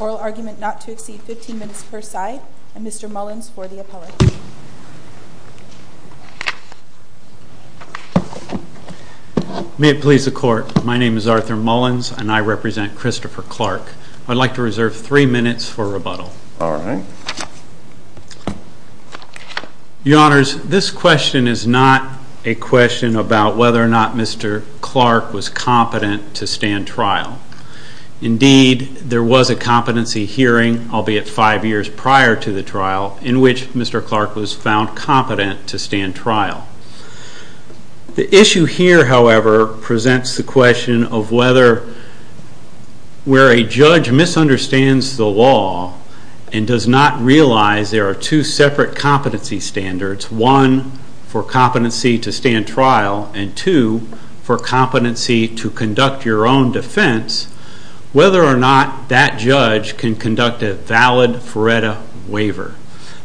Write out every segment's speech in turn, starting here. Oral argument not to exceed 15 minutes per side, and Mr. Mullins for the appellate. May it please the court, my name is Arthur Mullins and I represent Christopher Clark. I'd like to reserve three minutes for rebuttal. Alright. A question about whether or not Mr. Clark was competent to stand trial. Indeed, there was a competency hearing, albeit five years prior to the trial, in which Mr. Clark was found competent to stand trial. The issue here, however, presents the question of whether where a judge misunderstands the law and does not realize there are two separate competency standards, one for competency to stand trial and two for competency to conduct your own defense, whether or not that judge can conduct a valid FRERTA waiver.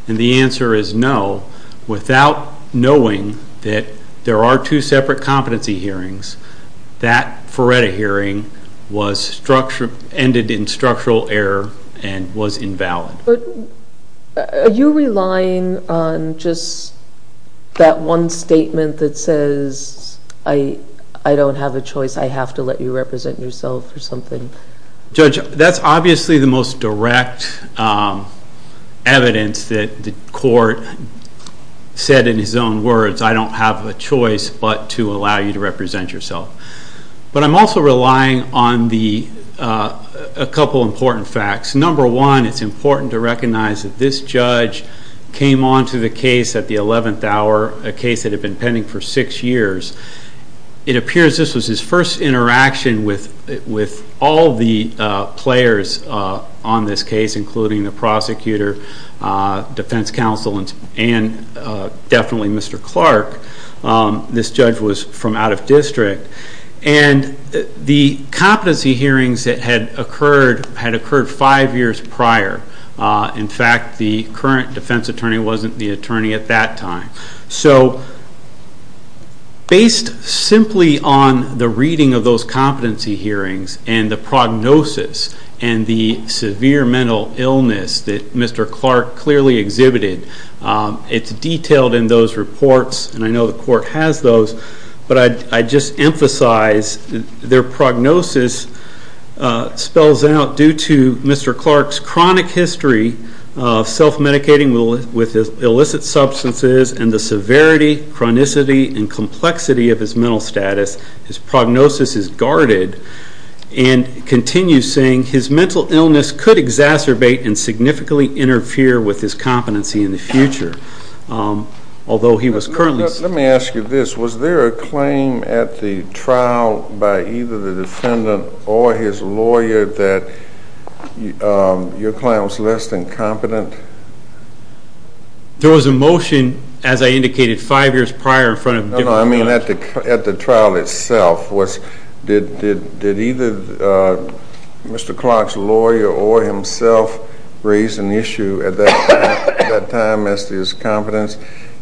And the answer is no. Without knowing that there are two separate competency hearings, that FRERTA hearing was ended in structural error and was invalid. Are you relying on just that one statement that says I don't have a choice, I have to let you represent yourself or something? Judge, that's obviously the most direct evidence that the court said in his own words, I don't have a choice but to allow you to represent yourself. But I'm also relying on a couple important facts. Number one, it's important to recognize that this judge came on to the case at the eleventh hour, a case that had been pending for six years. It appears this was his first interaction with all defense counsel and definitely Mr. Clark. This judge was from out of district. And the competency hearings that had occurred had occurred five years prior. In fact, the current defense attorney wasn't the attorney at that time. Based simply on the reading of those competency hearings and the prognosis and the severe mental illness that Mr. Clark clearly exhibited, it's detailed in those reports and I know the court has those, but I just emphasize their prognosis spells out due to Mr. Clark's chronic history of self-medicating with illicit substances and the severity, chronicity and complexity of his mental status. His prognosis is guarded. And continues saying his mental illness could exacerbate and significantly interfere with his competency in the future. Although he was currently... Let me ask you this. Was there a claim at the trial by either the defendant or his lawyer that your client was less than competent? There was a motion, as I indicated, five years prior in front of... No, no. I mean at the trial itself. Did either Mr. Clark's lawyer or himself raise an issue at that time as to his competence,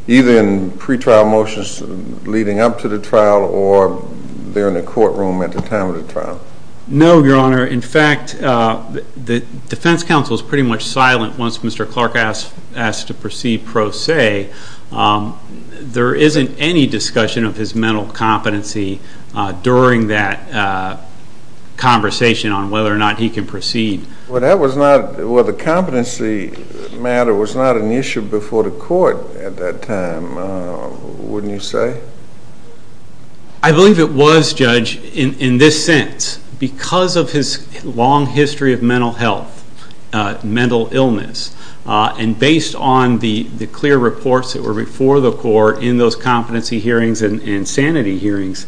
either in pretrial motions leading up to the trial or there in the courtroom at the time of the trial? No, Your Honor. In fact, the defense counsel is pretty much silent once Mr. Clark asks to proceed pro se. There isn't any discussion of his mental competency during that conversation on whether or not he can proceed. Well, the competency matter was not an issue before the court at that time, wouldn't you say? I believe it was, Judge, in this sense. Because of his long history of mental health, mental illness, and based on the clear reports that were before the court in those competency hearings and sanity hearings,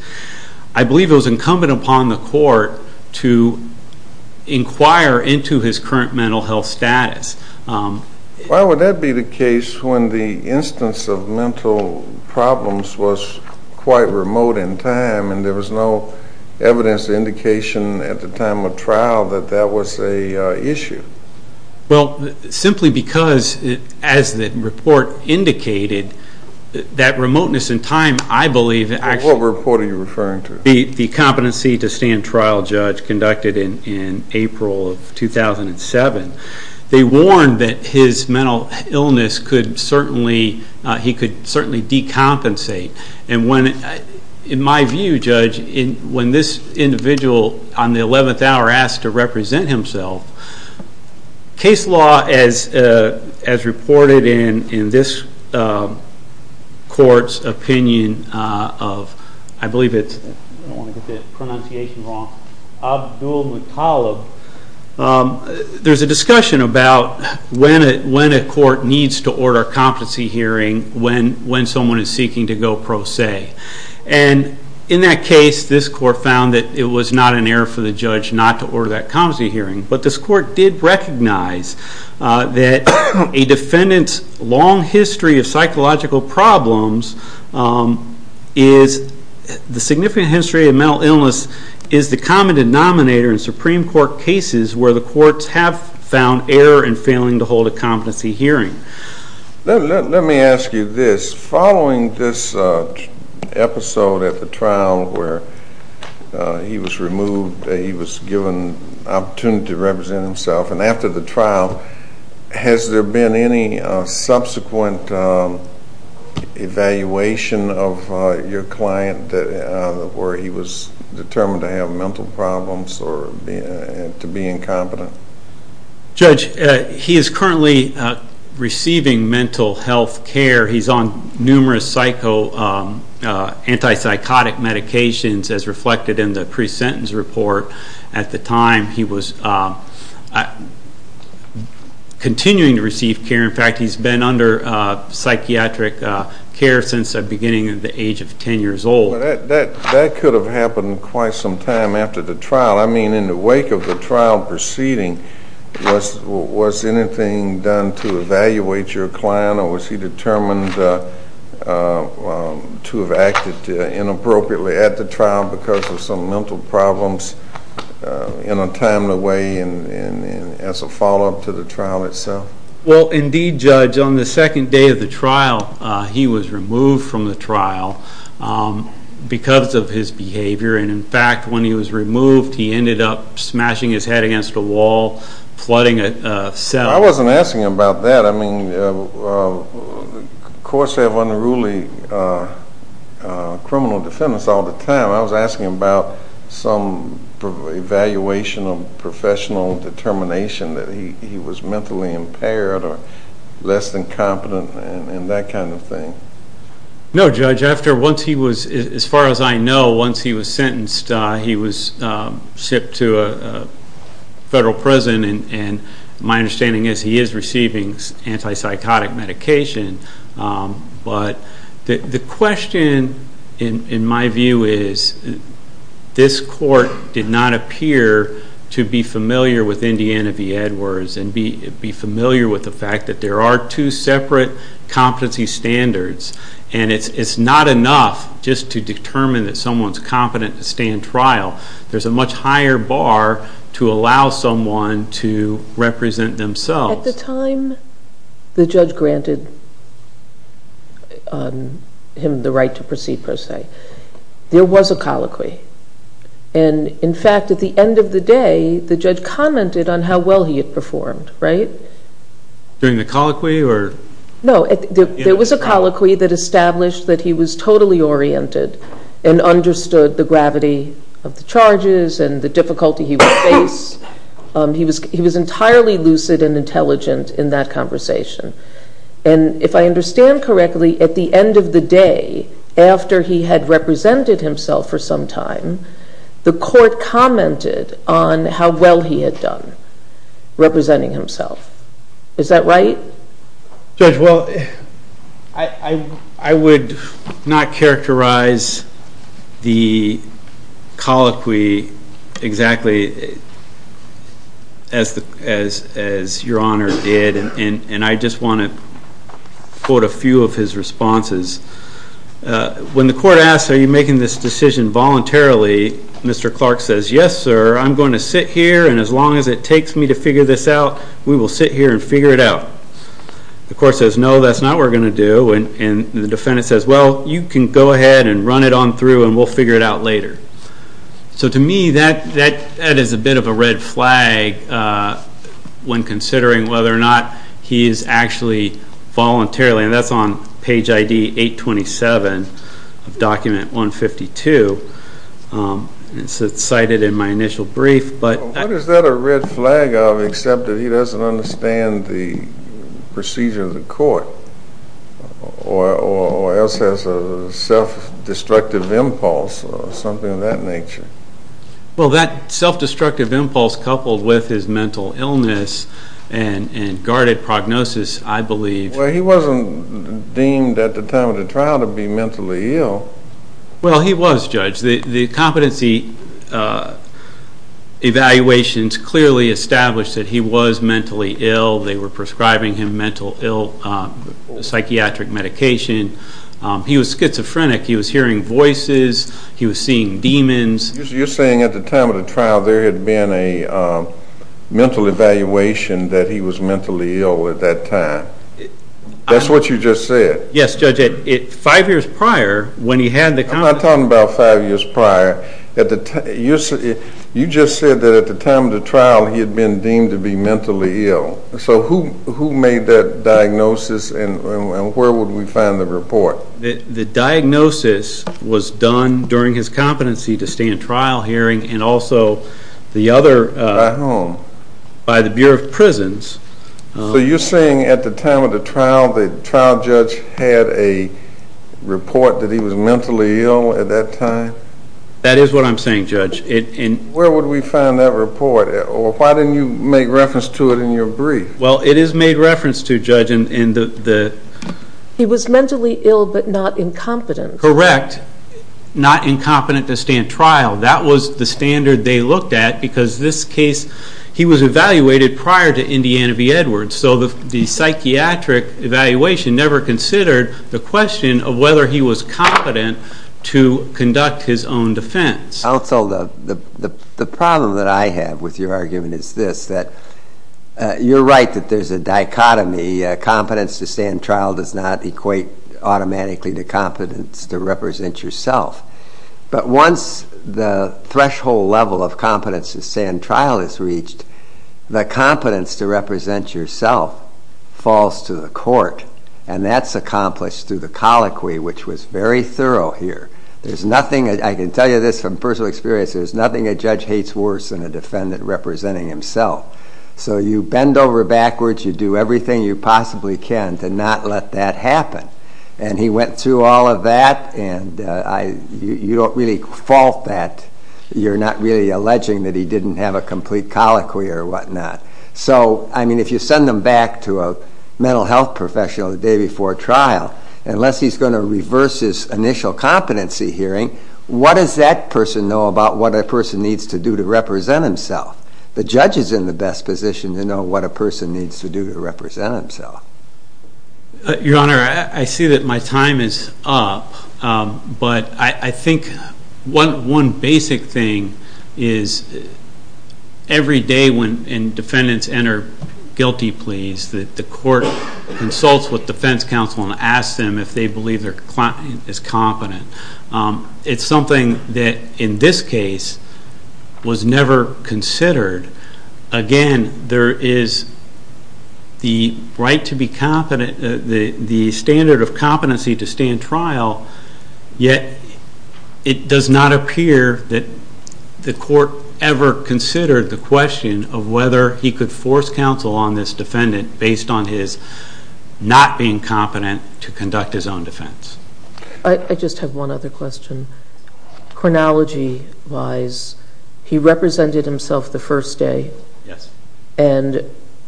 I believe it was incumbent upon the court to inquire into his current mental health status. Why would that be the case when the instance of mental problems was quite remote in time and there was no evidence or indication at the time of trial that that was an issue? Well, simply because as the report indicated, that remoteness in time, I believe... What report are you referring to? The competency to stand trial, Judge, conducted in April of 2007. They warned that his mental illness he could certainly decompensate. And in my view, Judge, when this individual on the 11th hour asked to represent himself, case law as reported in this court's opinion of, I believe it's, I don't want to get the pronunciation wrong, Abdul Muttalib, there's a discussion about when a court needs to order a competency hearing when someone is seeking to go pro se. And in that case, this court found that it was not an error for the judge not to order that competency hearing. But this court did recognize that a defendant's long history of psychological problems is the significant history of mental illness is the common denominator in Supreme Court cases where the courts have found error in failing to hold a competency hearing. Let me ask you this. Following this episode at the trial where he was removed, he was given the opportunity to represent himself. And after the trial, has there been any subsequent evaluation of your client where he was determined to have mental problems or to be incompetent? Judge, he is currently receiving mental health care. He's on numerous antipsychotic medications as reflected in the pre-sentence report. At the time, he was continuing to receive care. In fact, he's been under psychiatric care since the beginning of the age of 10 years old. That could have happened quite some time after the trial. I mean, in the wake of the trial proceeding, was he deemed to have acted inappropriately at the trial because of some mental problems in a timely way and as a follow-up to the trial itself? Well, indeed, Judge, on the second day of the trial, he was removed from the trial because of his behavior. And in fact, when he was removed, he ended up smashing his head against a wall, flooding a cell. I wasn't asking about that. I mean, courts have unruly criminal defendants all the time. I was asking about some evaluation of professional determination that he was mentally impaired or less than competent and that kind of thing. No, Judge. As far as I know, once he was sentenced, he was sent to federal prison. And my understanding is he is receiving antipsychotic medication. But the question in my view is this court did not appear to be familiar with Indiana v. Edwards and be familiar with the fact that there are two separate competency standards. And it's not enough just to determine that someone's competent to stay in trial. There's a much higher bar to allow someone to represent themselves. At the time the judge granted him the right to proceed per se, there was a colloquy. And in fact, at the end of the day, the judge commented on how well he had performed, right? During the colloquy No, there was a colloquy that established that he was totally oriented and understood the gravity of the charges and the difficulty he would face. He was entirely lucid and intelligent in that conversation. And if I understand correctly, at the end of the day, after he had represented himself for some time, the court commented on how well he had done representing himself. Is that right? Judge, well, I would not characterize the colloquy exactly as Your Honor did. And I just want to quote a few of his responses. When the court asks, Are you making this decision voluntarily? Mr. Clark says, Yes, sir. I'm going to sit here and as long as it takes me to figure this out, we will sit here and figure it out. The court says, No, that's not what we're going to do. And the defendant says, Well, you can go ahead and run it on through and we'll figure it out later. So to me, that is a bit of a red flag when considering whether or not he is actually volunteering. And that's on page ID 827 of document 152. It's cited in my initial brief. What is that a red flag of except that he doesn't understand the procedure of the court? Or else there's a self-destructive impulse or something of that nature? Well, that self-destructive impulse coupled with his mental illness and guarded prognosis, I believe. Well, he wasn't deemed at the time of the trial to be mentally ill. Well, he was, Judge. The competency evaluations clearly established that he was mentally ill. They were prescribing him mental ill psychiatric medication. He was schizophrenic. He was hearing voices. He was seeing demons. You're saying at the time of the trial there had been a mental evaluation that he was mentally ill at that time. That's what you just said. Yes, Judge. Five years prior, when he had the I'm not talking about five years prior. You just said that at the time of the trial he had been deemed to be mentally ill. So who made that diagnosis and where would we find the report? The diagnosis was done during his competency to stand trial hearing and also the other By whom? By the Bureau of Prisons. So you're saying at the time of the trial the trial judge had a report that he was mentally ill at that time? That is what I'm saying, Judge. Where would we find that report? Or why didn't you make reference to it in your brief? Well, it is made reference to, Judge. He was mentally ill but not incompetent. Correct. Not incompetent to stand trial. That was the standard they looked at because this case he was evaluated prior to Indiana v. Edwards. So the psychiatric evaluation never considered the question of whether he was competent to your argument is this, that you're right that there's a dichotomy. Competence to stand trial does not equate automatically to competence to represent yourself. But once the threshold level of competence to stand trial is reached the competence to represent yourself falls to the court. And that's accomplished through the colloquy, which was very thorough here. There's nothing, I can tell you this from personal experience, there's nothing a judge hates worse than a defendant representing himself. So you bend over backwards, you do everything you possibly can to not let that happen. And he went through all of that and you don't really fault that. You're not really alleging that he didn't have a complete colloquy or whatnot. So, I mean, if you send him back to a mental health professional the day before trial, unless he's going to reverse his initial competency hearing, what does that person know about what that person needs to do to represent himself? The judge is in the best position to know what a person needs to do to represent himself. Your Honor, I see that my time is up, but I think one basic thing is every day when defendants enter guilty pleas, that the court consults with defense counsel and asks them if they believe their client is competent. It's something that in this case was never considered. Again, there is the right to be competent, the standard of competency to stand trial, yet it does not appear that the court ever considered the question of whether he could force counsel on this defendant based on his not being competent to conduct his own defense. I just have one other question. Chronology-wise, he represented himself the first day, and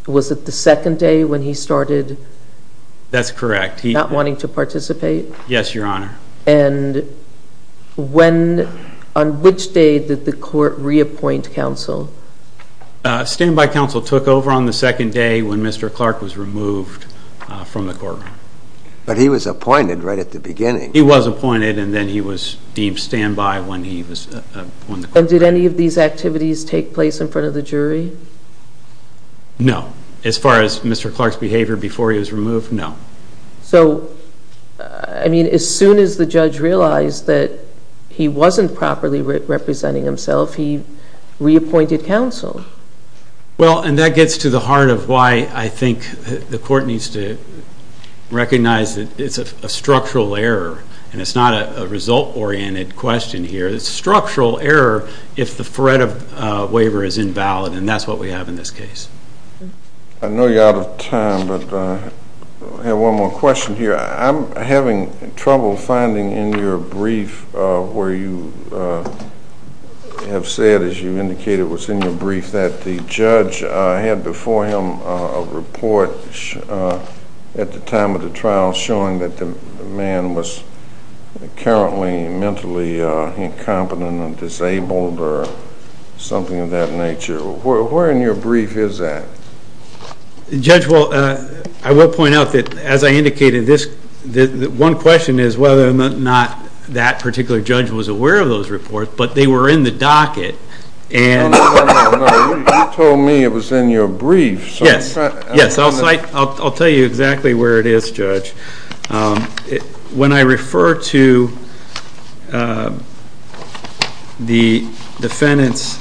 was it the second day when he started not wanting to participate? Yes, Your Honor. And on which day did the court reappoint counsel? Standby counsel took over on the second day when Mr. Clark was removed from the courtroom. But he was appointed right at the beginning. He was appointed, and then he was deemed standby when he was appointed. And did any of these activities take place in front of the jury? No. As far as Mr. Clark's behavior before he was removed, no. So, I mean, as soon as the judge realized that he wasn't properly representing himself, he reappointed counsel. Well, and that gets to the heart of why I think the court needs to recognize that it's a structural error, and it's not a result-oriented question here. It's a structural error if the threat of waiver is invalid, and that's what we have in this case. I know you're out of time, but I have one more question here. I'm having trouble finding in your brief where you have said, as you indicated was in your brief, that the judge had before him a report at the time of the trial showing that the man was currently mentally incompetent or disabled or something of that nature. Where in your brief is that? Judge, well, I will point out that, as I indicated, one question is whether or not that particular judge was aware of those reports, but they were in the docket. You told me it was in your brief. Yes, I'll tell you exactly where it is, Judge. When I refer to the defendant's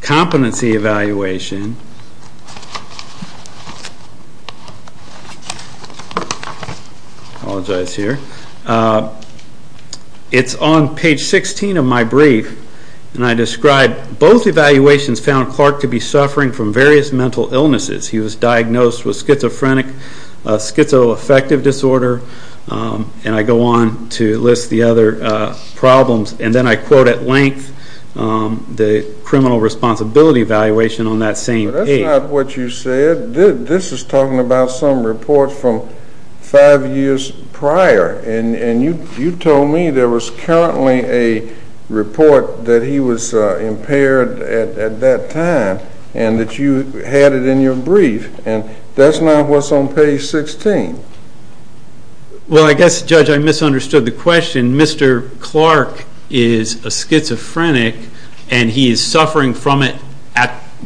competency evaluation, it's on page 16 of my brief, and I describe both evaluations found Clark to be suffering from various mental illnesses. He was diagnosed with schizoaffective disorder, and I go on to list the other problems, and then I quote at length the criminal responsibility evaluation on that same page. That's not what you said. This is talking about some reports from five years prior, and you told me there was currently a report that he was impaired at that time, and that you had it in your brief, and that's not what's on page 16. Well, I guess, Judge, I misunderstood the question. Mr. Clark is a schizophrenic, and he is suffering from it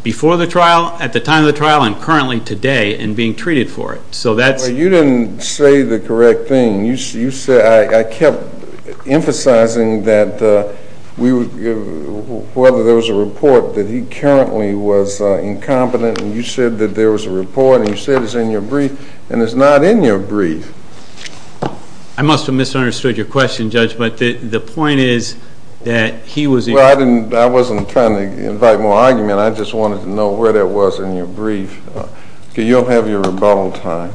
before the trial, at the time of the trial, and currently today, and being treated for it. You didn't say the correct thing. I kept emphasizing that whether there was a report that he currently was incompetent, and you said that there was a report, and you said it's in your brief, and it's not in your brief. I must have misunderstood your question, Judge, but the point is that he was... Well, I wasn't trying to invite more argument. I just wanted to know where that was in your brief, because you'll have your rebuttal time.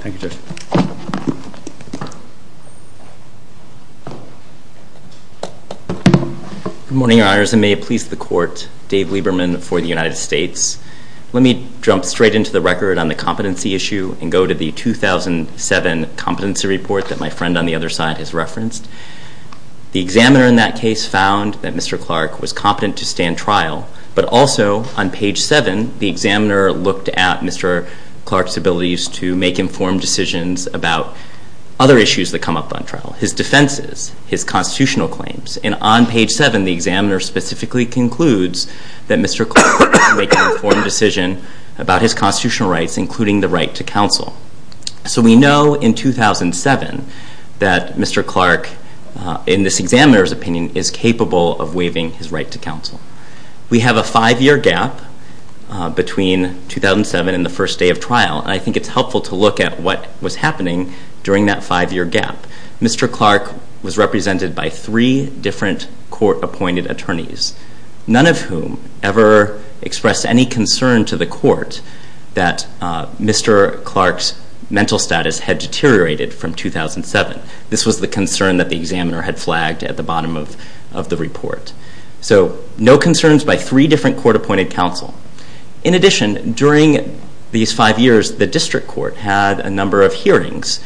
Thank you, Judge. Good morning, Your Honors, and may it please the Court, Dave Lieberman for the United States. Let me jump straight into the record on the competency issue and go to the 2007 competency report that my friend on the other side has referenced. The examiner in that case found that Mr. Clark was competent to stand trial, but also, on page 7, the examiner looked at Mr. Clark's abilities to make informed decisions about other issues that come up on trial, his defenses, his constitutional claims, and on page 7, the examiner specifically concludes that Mr. Clark could make an informed decision about his constitutional rights, including the right to counsel. So we know in 2007 that Mr. Clark, in this examiner's opinion, is of a five-year gap between 2007 and the first day of trial, and I think it's helpful to look at what was happening during that five-year gap. Mr. Clark was represented by three different court-appointed attorneys, none of whom ever expressed any concern to the court that Mr. Clark's mental status had deteriorated from 2007. This was the concern that the examiner had flagged at the bottom of the report. So no concerns by three different court-appointed counsel. In addition, during these five years, the district court had a number of hearings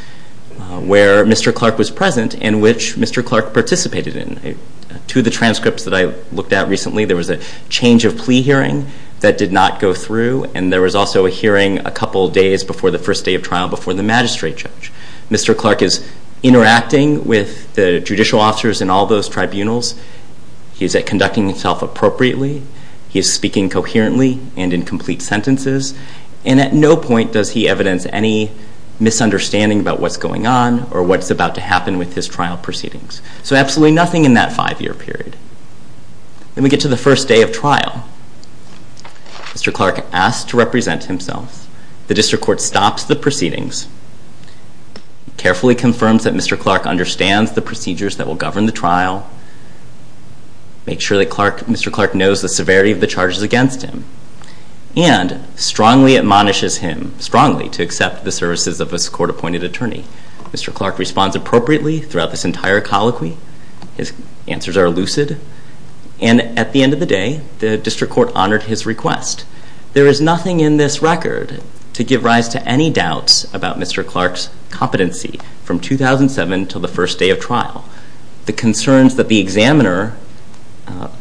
where Mr. Clark was present and which Mr. Clark participated in. To the transcripts that I looked at recently, there was a change of plea hearing that did not go through, and there was also a hearing a couple days before the first day of trial before the magistrate judge. Mr. Clark is interacting with the judicial officers in all those tribunals. He is conducting himself appropriately. He is speaking coherently and in complete sentences, and at no point does he evidence any misunderstanding about what's going on or what's about to happen with his trial proceedings. So absolutely nothing in that five-year period. Then we get to the first day of trial. Mr. Clark asks to represent himself. The district court stops the proceedings, carefully confirms that Mr. Clark understands the procedures that will govern the trial, makes sure that Mr. Clark knows the severity of the charges against him, and strongly admonishes him, strongly, to accept the services of a court-appointed attorney. Mr. Clark responds appropriately throughout this entire colloquy. His answers are lucid, and at the end of the day, the district court honored his request. There is nothing in this record to give rise to any doubts about Mr. Clark's competency from 2007 until the first day of trial. The concerns that the examiner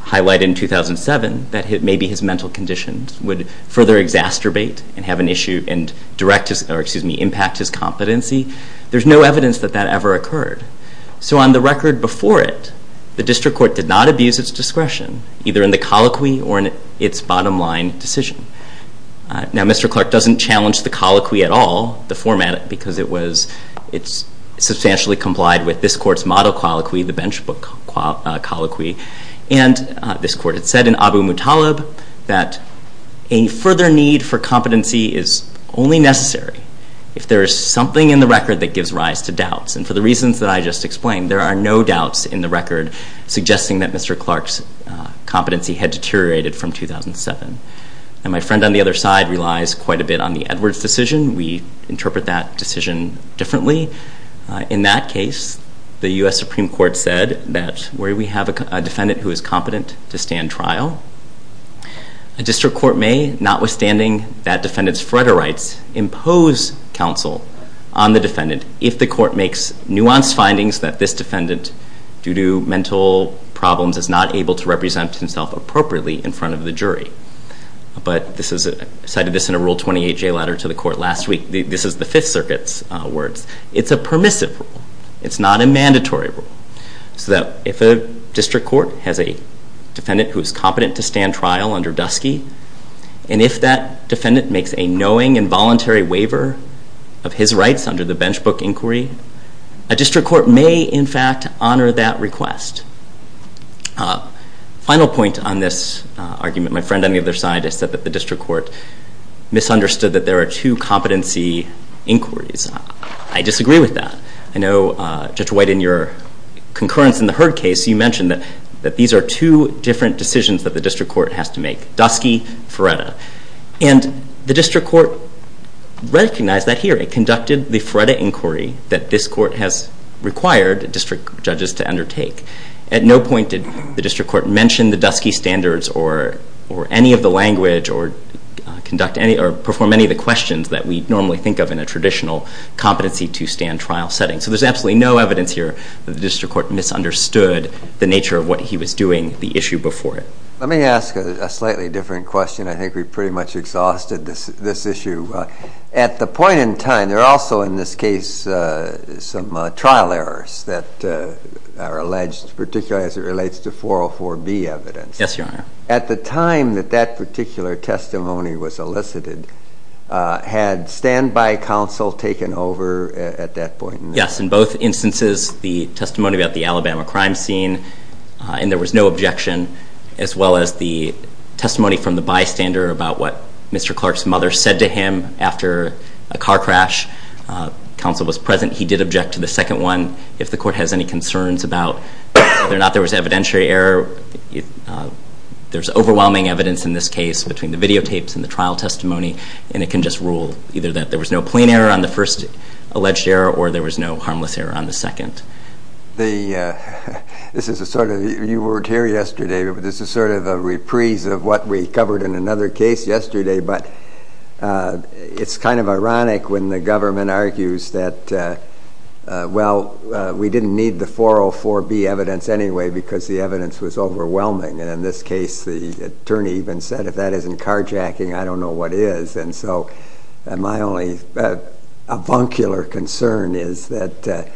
highlighted in 2007 that maybe his mental conditions would further exacerbate and have an issue and impact his competency, there's no evidence that that ever occurred. So on the record before it, the district court did not abuse its discretion, either in the colloquy or in its bottom-line decision. Now, Mr. Clark doesn't challenge the colloquy at all, the format, because it substantially complied with this court's model colloquy, the bench book colloquy. And this court had said in Abu Mutalib that a further need for competency is only necessary if there is something in the record, as I just explained. There are no doubts in the record suggesting that Mr. Clark's competency had deteriorated from 2007. And my friend on the other side relies quite a bit on the Edwards decision. We interpret that decision differently. In that case, the U.S. Supreme Court said that where we have a defendant who is competent to stand trial, a district court may, notwithstanding that defendant's compensation, decide on the defendant if the court makes nuanced findings that this defendant, due to mental problems, is not able to represent himself appropriately in front of the jury. But this is, I cited this in a Rule 28 jail adder to the court last week. This is the Fifth Circuit's words. It's a permissive rule. It's not a mandatory rule. So that if a district court has a defendant who is competent to stand trial under the bench book inquiry, a district court may, in fact, honor that request. Final point on this argument. My friend on the other side has said that the district court misunderstood that there are two competency inquiries. I disagree with that. I know, Judge White, in your concurrence in the Heard case, you mentioned that these are two different decisions that the district court has to make. Dusky, Feretta. And the district court recognized that here. It conducted the Feretta inquiry that this court has required district judges to undertake. At no point did the district court mention the Dusky standards or any of the language or perform any of the questions that we normally think of in a traditional competency to stand trial setting. So there's absolutely no evidence here that the district court misunderstood the nature of what he was doing the issue before it. Let me ask a slightly different question. I think we pretty much exhausted this issue. At the point in time, there are also in this case some trial errors that are alleged, particularly as it relates to 404B evidence. Yes, Your Honor. At the time that that particular testimony was elicited, had a stand-by counsel taken over at that point? Yes. In both instances, the testimony about the Alabama crime scene, and there was no objection, as well as the testimony from the bystander about what Mr. Clark's mother said to him after a car crash. Counsel was present. He did object to the second one. If the court has any concerns about whether or not there was evidentiary error, there's no plain error on the first alleged error, or there was no harmless error on the second. You weren't here yesterday, but this is sort of a reprise of what we covered in another case yesterday, but it's kind of ironic when the government argues that, well, we didn't need the 404B evidence anyway because the evidence was overwhelming. In this case, the concern is that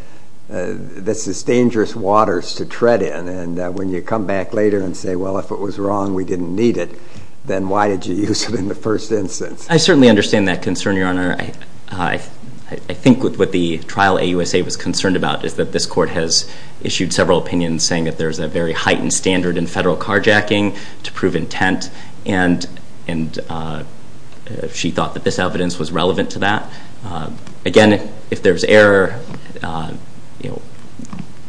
this is dangerous waters to tread in, and when you come back later and say, well, if it was wrong, we didn't need it, then why did you use it in the first instance? I certainly understand that concern, Your Honor. I think what the trial AUSA was concerned about is that this court has issued several opinions saying that there's a very heightened standard in federal carjacking to prove intent, and she thought that this evidence was relevant to that. Again, if there's error,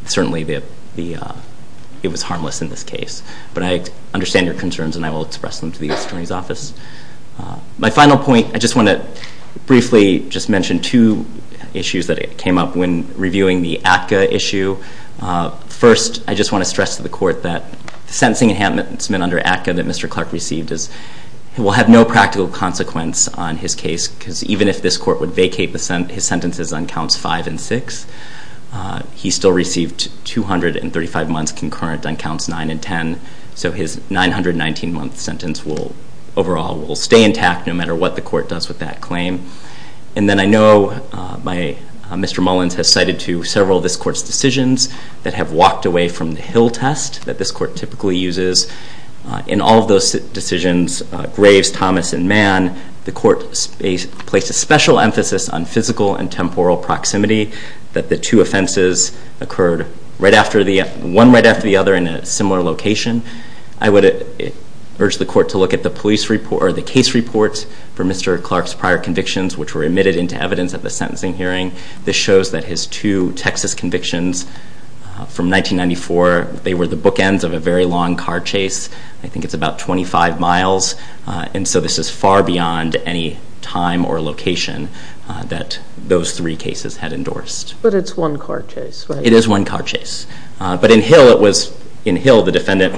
certainly it was harmless in this case. But I understand your concerns, and I will express them to the Attorney's Office. My final point, I just want to briefly mention two issues that came up when reviewing the ACCA issue. First, I just want to stress to the Court that the sentencing enhancements under ACCA that Mr. Clark received will have no practical consequence on his case, because even if this Court would vacate his sentences on Counts 5 and 6, he still received 235 months concurrent on Counts 9 and 10, so his 919 month sentence overall will stay intact no matter what the Court does with that claim. And then I know Mr. Mullins has cited to several of this Court's decisions that have walked away from the Hill test that this Court typically uses. In all of those decisions, Graves, Thomas, and Mann, the Court placed a special emphasis on physical and temporal proximity, that the two offenses occurred one right after the other in a similar location. I would urge the Court to look at the case report for Mr. Clark's prior convictions, which were admitted into evidence at the sentencing hearing. This shows that his two Texas convictions from 1994, they were the bookends of a very long car chase. I think it's about 25 miles, and so this is far beyond any time or location that those three cases had endorsed. But it's one car chase, right? It's not a case where the defendant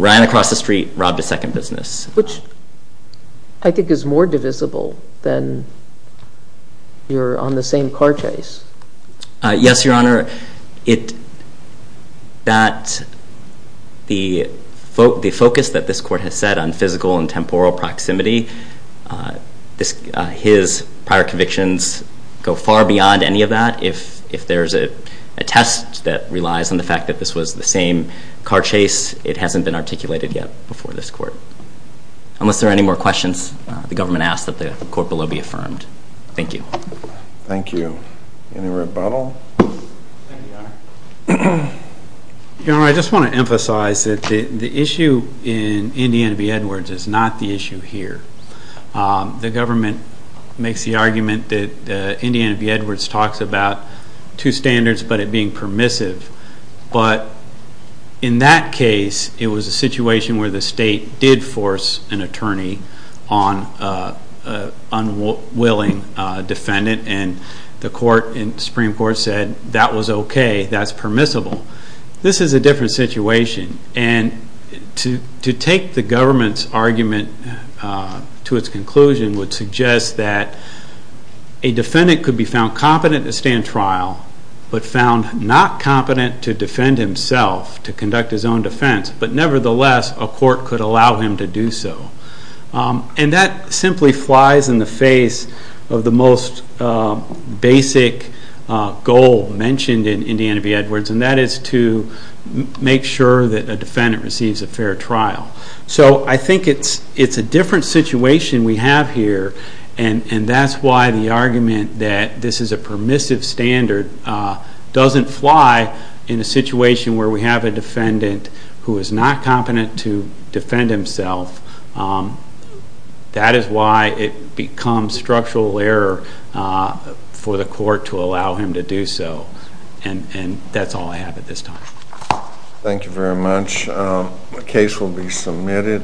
ran across the street, robbed a second business. Which I think is more divisible than you're on the same car chase. Yes, Your Honor. The focus that this Court has set on physical and temporal proximity, his prior convictions go far beyond any of that. If there's a test that relies on the fact that this was the same car chase, it hasn't been articulated yet before this Court. Unless there are any more questions, the Government asks that the Court below be affirmed. Thank you. Thank you. Any rebuttal? Your Honor, I just want to emphasize that the issue in Indiana v. Edwards is not the issue here. The Government makes the argument that Indiana v. Edwards talks about two standards, but it being permissive. But in that case, it was a situation where the State did force an attorney on an unwilling defendant, and the Court and Supreme Court said that was okay, that's permissible. This is a different situation. And to take the Government's argument to its conclusion would suggest that a defendant could be found competent to stand trial, but found not competent to defend himself, to conduct his own defense. But nevertheless, a Court could allow him to do so. And that simply flies in the face of the most basic goal mentioned in Indiana v. Edwards, and that is to make sure that a defendant receives a fair trial. So I think it's a different situation we have here, and that's why the argument that this is a permissive standard doesn't fly in a situation where we have a defendant who is not competent to defend himself. That is why it becomes structural error for the Court to allow him to do so. And that's all I have at this time. Thank you very much. The case will be submitted.